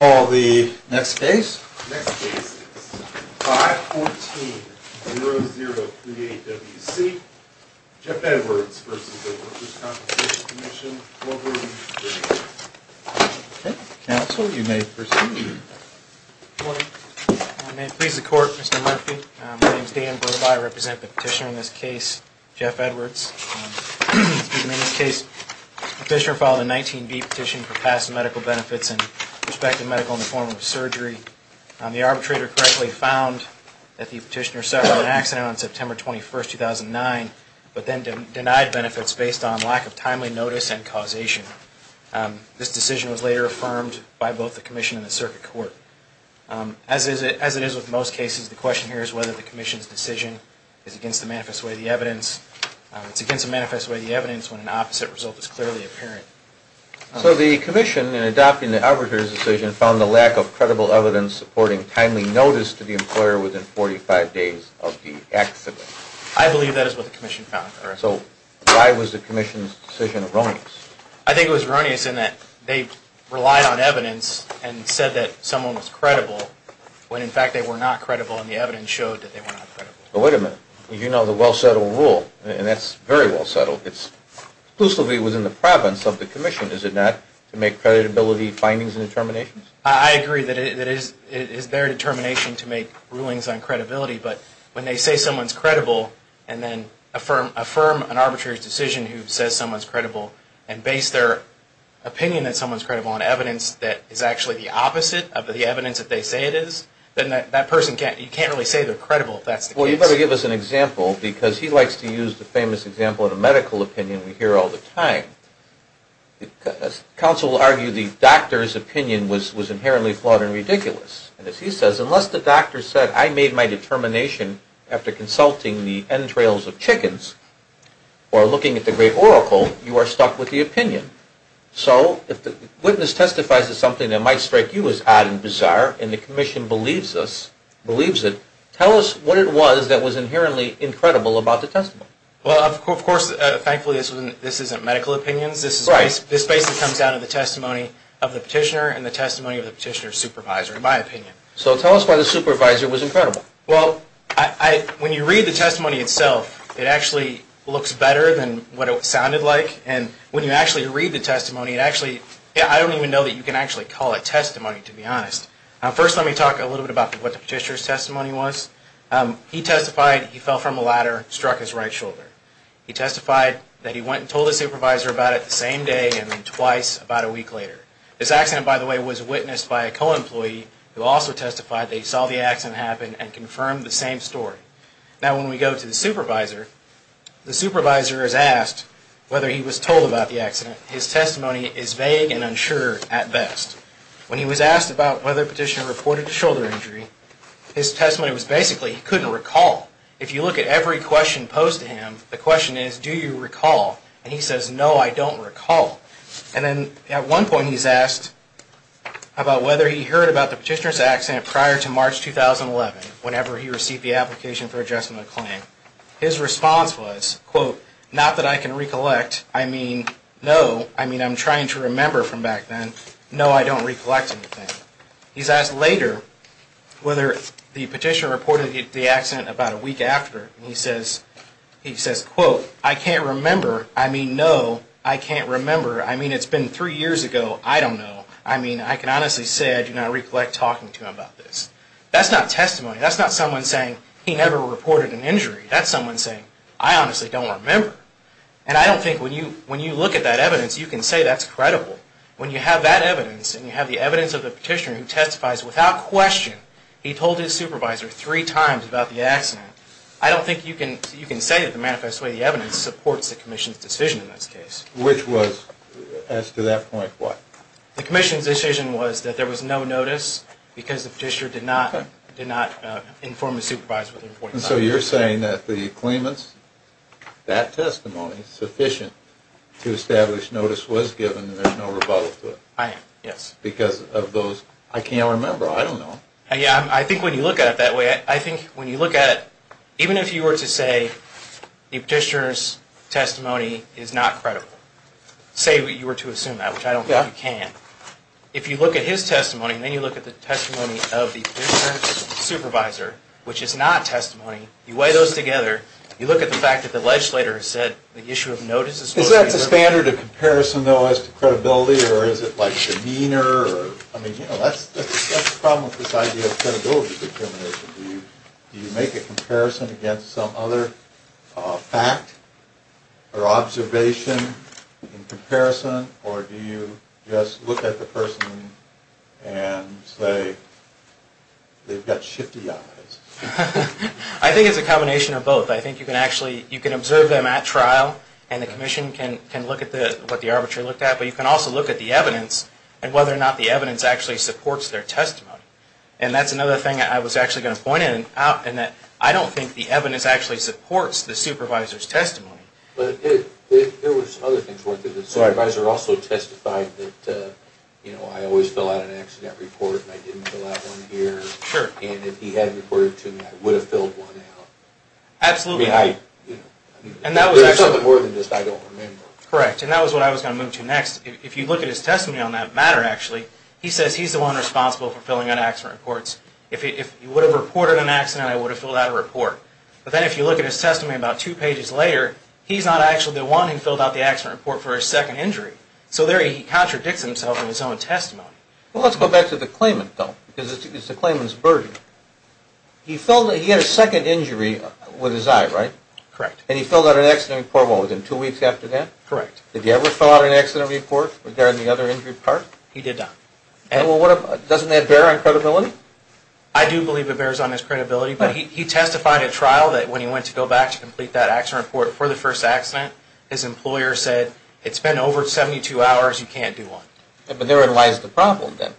Next case is 514-0038-WC, Jeff Edwards v. Workers' Compensation Commission, Wolverine, Virginia. Counsel, you may proceed. Good morning. My name pleases the Court, Mr. Murphy. My name is Dan Burbaugh. I represent the petitioner in this case, Jeff Edwards. In this case, the petitioner filed a 19-B petition for past medical benefits and prospective medical in the form of surgery. The arbitrator correctly found that the petitioner suffered an accident on September 21, 2009, but then denied benefits based on lack of timely notice and causation. This decision was later affirmed by both the Commission and the Circuit Court. As it is with most cases, the question here is whether the Commission's decision is against the manifest way of the evidence. It's against the manifest way of the evidence when an opposite result is clearly apparent. So the Commission, in adopting the arbitrator's decision, found the lack of credible evidence supporting timely notice to the employer within 45 days of the accident. I believe that is what the Commission found. So why was the Commission's decision erroneous? I think it was erroneous in that they relied on evidence and said that someone was credible when, in fact, they were not credible and the evidence showed that they were not credible. But wait a minute. You know the well-settled rule, and that's very well-settled. It's exclusively within the province of the Commission, is it not, to make credibility findings and determinations? I agree that it is their determination to make rulings on credibility. But when they say someone's credible, and then affirm an arbitrator's decision who says someone's credible, and base their opinion that someone's credible on evidence that is actually the opposite of the evidence that they say it is, then you can't really say they're credible if that's the case. Well, you better give us an example, because he likes to use the famous example of the medical opinion we hear all the time. Counsel will argue the doctor's opinion was inherently flawed and ridiculous. And as he says, unless the doctor said, I made my determination after consulting the entrails of chickens or looking at the great oracle, you are stuck with the opinion. So if the witness testifies to something that might strike you as odd and bizarre, and the Commission believes it, tell us what it was that was inherently incredible about the testimony. Well, of course, thankfully this isn't medical opinions. This basically comes down to the testimony of the petitioner and the testimony of the petitioner's supervisor, in my opinion. So tell us why the supervisor was incredible. Well, when you read the testimony itself, it actually looks better than what it sounded like. And when you actually read the testimony, I don't even know that you can actually call it testimony, to be honest. First, let me talk a little bit about what the petitioner's testimony was. He testified he fell from a ladder, struck his right shoulder. He testified that he went and told his supervisor about it the same day and then twice about a week later. This accident, by the way, was witnessed by a co-employee who also testified that he saw the accident happen and confirmed the same story. Now when we go to the supervisor, the supervisor is asked whether he was told about the accident. His testimony is vague and unsure at best. When he was asked about whether the petitioner reported a shoulder injury, his testimony was basically he couldn't recall. If you look at every question posed to him, the question is, do you recall? And he says, no, I don't recall. And then at one point he's asked about whether he heard about the petitioner's accident prior to March 2011, whenever he received the application for adjustment of claim. His response was, quote, not that I can recollect. I mean, no, I mean I'm trying to remember from back then. No, I don't recollect anything. He's asked later whether the petitioner reported the accident about a week after. And he says, quote, I can't remember. I mean, no, I can't remember. I mean, it's been three years ago. I don't know. I mean, I can honestly say I do not recollect talking to him about this. That's not testimony. That's not someone saying he never reported an injury. That's someone saying, I honestly don't remember. And I don't think when you look at that evidence, you can say that's credible. When you have that evidence and you have the evidence of the petitioner who testifies without question, he told his supervisor three times about the accident, I don't think you can say that the manifest way the evidence supports the commission's decision in this case. Which was, as to that point, what? The commission's decision was that there was no notice because the petitioner did not inform the supervisor. So you're saying that the claimant's, that testimony, sufficient to establish notice was given and there's no rebuttal to it. I am, yes. Because of those, I can't remember, I don't know. I think when you look at it that way, I think when you look at it, even if you were to say the petitioner's testimony is not credible, say you were to assume that, which I don't think you can, if you look at his testimony and then you look at the testimony of the petitioner's supervisor, which is not testimony, you weigh those together, you look at the fact that the legislator has said the issue of notice is... Is that the standard of comparison, though, as to credibility or is it like demeanor? I mean, you know, that's the problem with this idea of credibility determination. Do you make a comparison against some other fact or observation in comparison or do you just look at the person and say, they've got shifty eyes? I think it's a combination of both. I think you can actually, you can observe them at trial and the commission can look at what the arbiter looked at, but you can also look at the evidence and whether or not the evidence actually supports their testimony. And that's another thing I was actually going to point out, in that I don't think the evidence actually supports the supervisor's testimony. But there were some other things worth it. The supervisor also testified that, you know, I always fill out an accident report and I didn't fill out one here. Sure. And if he hadn't reported to me, I would have filled one out. Absolutely. You know, there's something more than just I don't remember. Correct, and that was what I was going to move to next. If you look at his testimony on that matter, actually, he says he's the one responsible for filling out accident reports. If he would have reported an accident, I would have filled out a report. But then if you look at his testimony about two pages later, he's not actually the one who filled out the accident report for his second injury. So there he contradicts himself in his own testimony. Well, let's go back to the claimant, though, because it's the claimant's burden. He had a second injury with his eye, right? Correct. And he filled out an accident report within two weeks after that? Correct. Did he ever fill out an accident report regarding the other injury part? He did not. Well, doesn't that bear on credibility? I do believe it bears on his credibility, but he testified at trial that when he went to go back to complete that accident report for the first accident, his employer said, it's been over 72 hours, you can't do one. But therein lies the problem, then.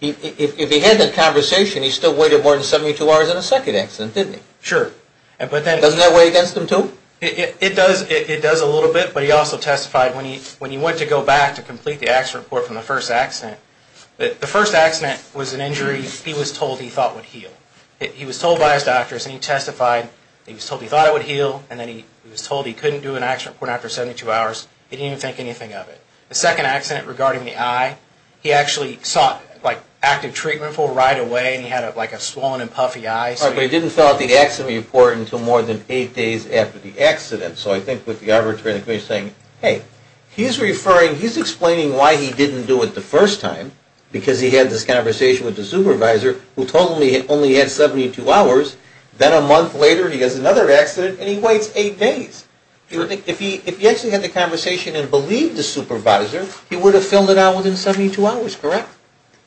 If he had that conversation, he still waited more than 72 hours in a second accident, didn't he? Sure. Doesn't that weigh against him, too? It does a little bit, but he also testified when he went to go back to complete the accident report from the first accident, that the first accident was an injury he was told he thought would heal. He was told by his doctors, and he testified, he was told he thought it would heal, and then he was told he couldn't do an accident report after 72 hours. He didn't even think anything of it. The second accident regarding the eye, he actually sought, like, active treatment for it right away, and he had, like, a swollen and puffy eye. But he didn't fill out the accident report until more than eight days after the accident. So I think with the arbitration committee saying, Hey, he's referring, he's explaining why he didn't do it the first time, because he had this conversation with the supervisor, who told him he only had 72 hours. Then a month later, he has another accident, and he waits eight days. If he actually had the conversation and believed the supervisor, he would have filled it out within 72 hours, correct?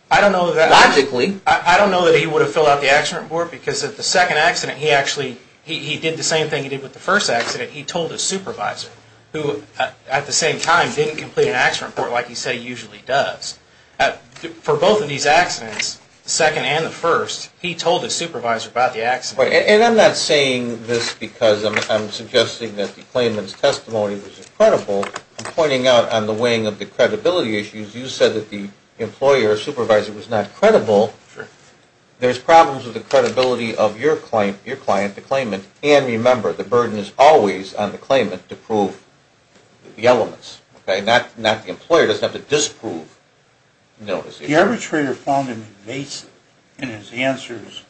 I don't know that. Logically. I don't know that he would have filled out the accident report, because at the second accident, he actually, he did the same thing he did with the first accident. He told the supervisor, who, at the same time, didn't complete an accident report like he said he usually does. For both of these accidents, the second and the first, he told the supervisor about the accident. And I'm not saying this because I'm suggesting that the claimant's testimony was incredible. I'm pointing out on the weighing of the credibility issues, you said that the employer or supervisor was not credible. There's problems with the credibility of your client, the claimant. And remember, the burden is always on the claimant to prove the elements. Okay? The employer doesn't have to disprove. The arbitrator found him invasive in his answers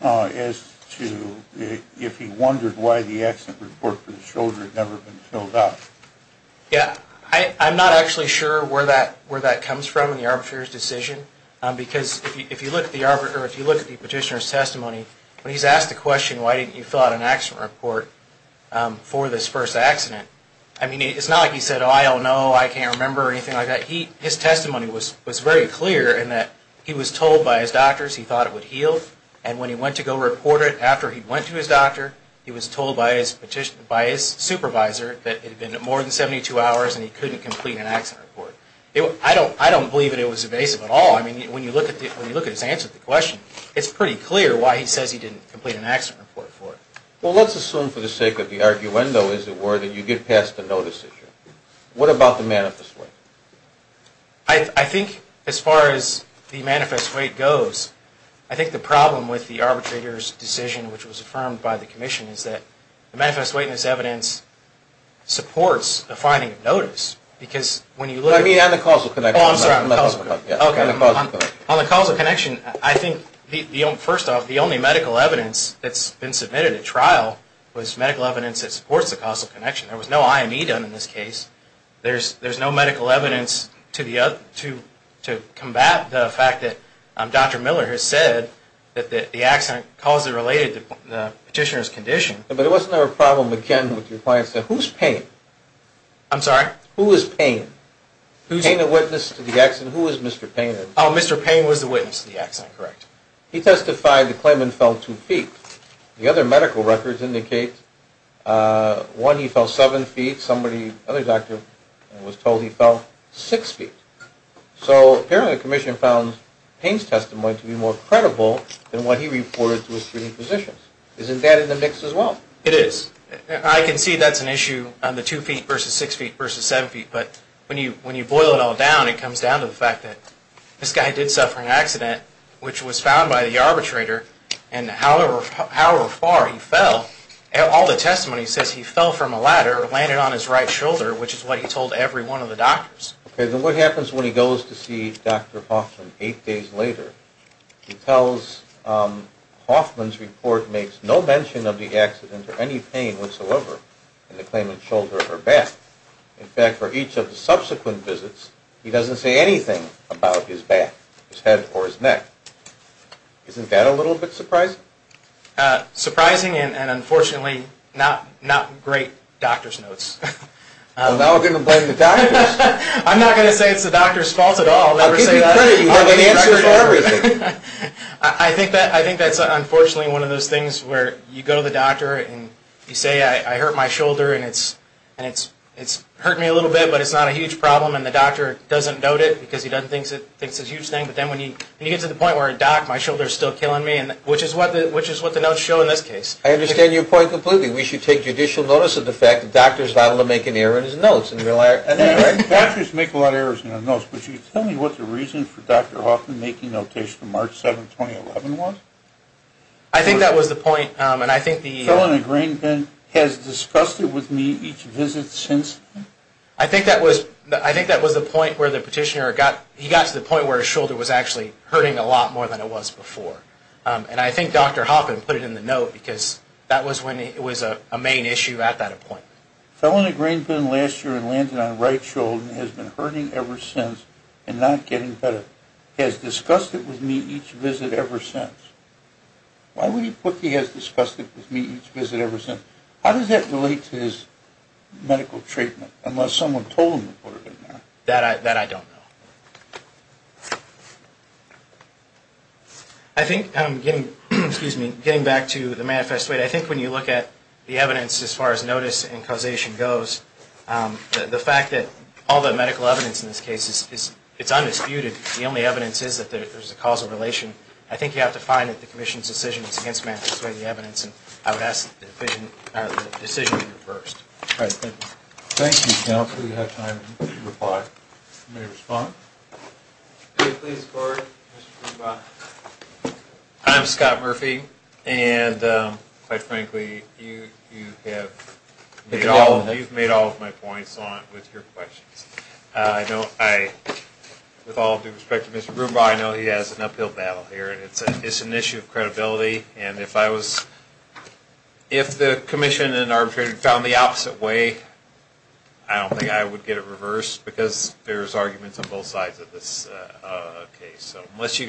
as to if he wondered why the accident report for the shoulder had never been filled out. Yeah. I'm not actually sure where that comes from in the arbitrator's decision, because if you look at the petitioner's testimony, when he's asked the question, why didn't you fill out an accident report for this first accident, I mean, it's not like he said, oh, I don't know, I can't remember, or anything like that. His testimony was very clear in that he was told by his doctors he thought it would heal, and when he went to go report it after he went to his doctor, he was told by his supervisor that it had been more than 72 hours and he couldn't complete an accident report. I don't believe that it was invasive at all. I mean, when you look at his answer to the question, it's pretty clear why he says he didn't complete an accident report for it. Well, let's assume for the sake of the arguendo, as it were, that you get past the no decision. What about the manifest weight? I think as far as the manifest weight goes, I think the problem with the arbitrator's decision, which was affirmed by the commission, is that the manifest weight in this evidence supports the finding of notice, because when you look at it... No, I mean on the causal connection. Oh, I'm sorry. On the causal connection. On the causal connection, I think, first off, the only medical evidence that's been submitted at trial was medical evidence that supports the causal connection. There was no IME done in this case. There's no medical evidence to combat the fact that Dr. Miller has said that the accident caused it related to the petitioner's condition. But it wasn't a problem again with your client saying, who's paying? I'm sorry? Who is paying? Paying a witness to the accident. Who is Mr. Payne? Oh, Mr. Payne was the witness to the accident. Correct. He testified that Clayman fell 2 feet. The other medical records indicate, one, he fell 7 feet. Somebody, another doctor, was told he fell 6 feet. So apparently the commission found Payne's testimony to be more credible than what he reported to his treating physicians. Isn't that in the mix as well? It is. I can see that's an issue on the 2 feet versus 6 feet versus 7 feet, but when you boil it all down, it comes down to the fact that this guy did suffer an accident, which was found by the arbitrator, and however far he fell, all the testimony says he fell from a ladder or landed on his right shoulder, which is what he told every one of the doctors. Okay, then what happens when he goes to see Dr. Hoffman 8 days later? He tells Hoffman's report makes no mention of the accident or any pain whatsoever in the Clayman shoulder or back. In fact, for each of the subsequent visits, he doesn't say anything about his back, his head, or his neck. Isn't that a little bit surprising? Surprising and, unfortunately, not great doctor's notes. Well, now we're going to blame the doctors. I'm not going to say it's the doctor's fault at all. I'll give you credit. You have an answer for everything. You say, I hurt my shoulder, and it's hurt me a little bit, but it's not a huge problem, and the doctor doesn't note it because he doesn't think it's a huge thing, but then when you get to the point where it docked, my shoulder's still killing me, which is what the notes show in this case. I understand your point completely. We should take judicial notice of the fact that doctors are allowed to make an error in his notes. Doctors make a lot of errors in their notes, but you tell me what the reason for Dr. Hoffman making notice from March 7, 2011 was? I think that was the point, and I think the... Felony Greenpen has discussed it with me each visit since? I think that was the point where the petitioner got to the point where his shoulder was actually hurting a lot more than it was before, and I think Dr. Hoffman put it in the note because that was when it was a main issue at that point. Felony Greenpen last year had landed on the right shoulder and has been hurting ever since and not getting better. Dr. Hoffman has discussed it with me each visit ever since. Why would he put he has discussed it with me each visit ever since? How does that relate to his medical treatment, unless someone told him to put it in there? That I don't know. I think, getting back to the manifesto, I think when you look at the evidence as far as notice and causation goes, the fact that all the medical evidence in this case, it's undisputed. The only evidence is that there's a causal relation. I think you have to find that the Commission's decision is against manifesto evidence, and I would ask that the decision be reversed. Thank you. Thank you, counsel. We have time to reply. You may respond. I'm Scott Murphy, and quite frankly, you have made all of my points with your questions. With all due respect to Mr. Brumbaugh, I know he has an uphill battle here, and it's an issue of credibility, and if the Commission and arbitrator found the opposite way, I don't think I would get it reversed, because there's arguments on both sides of this case. So unless you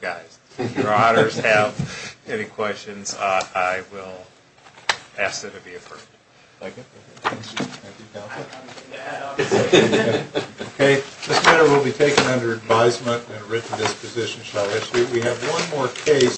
guys, your honors, have any questions, I will ask that it be approved. Thank you. Thank you, counsel. Okay, this matter will be taken under advisement, and a written disposition shall issue. We have one more case.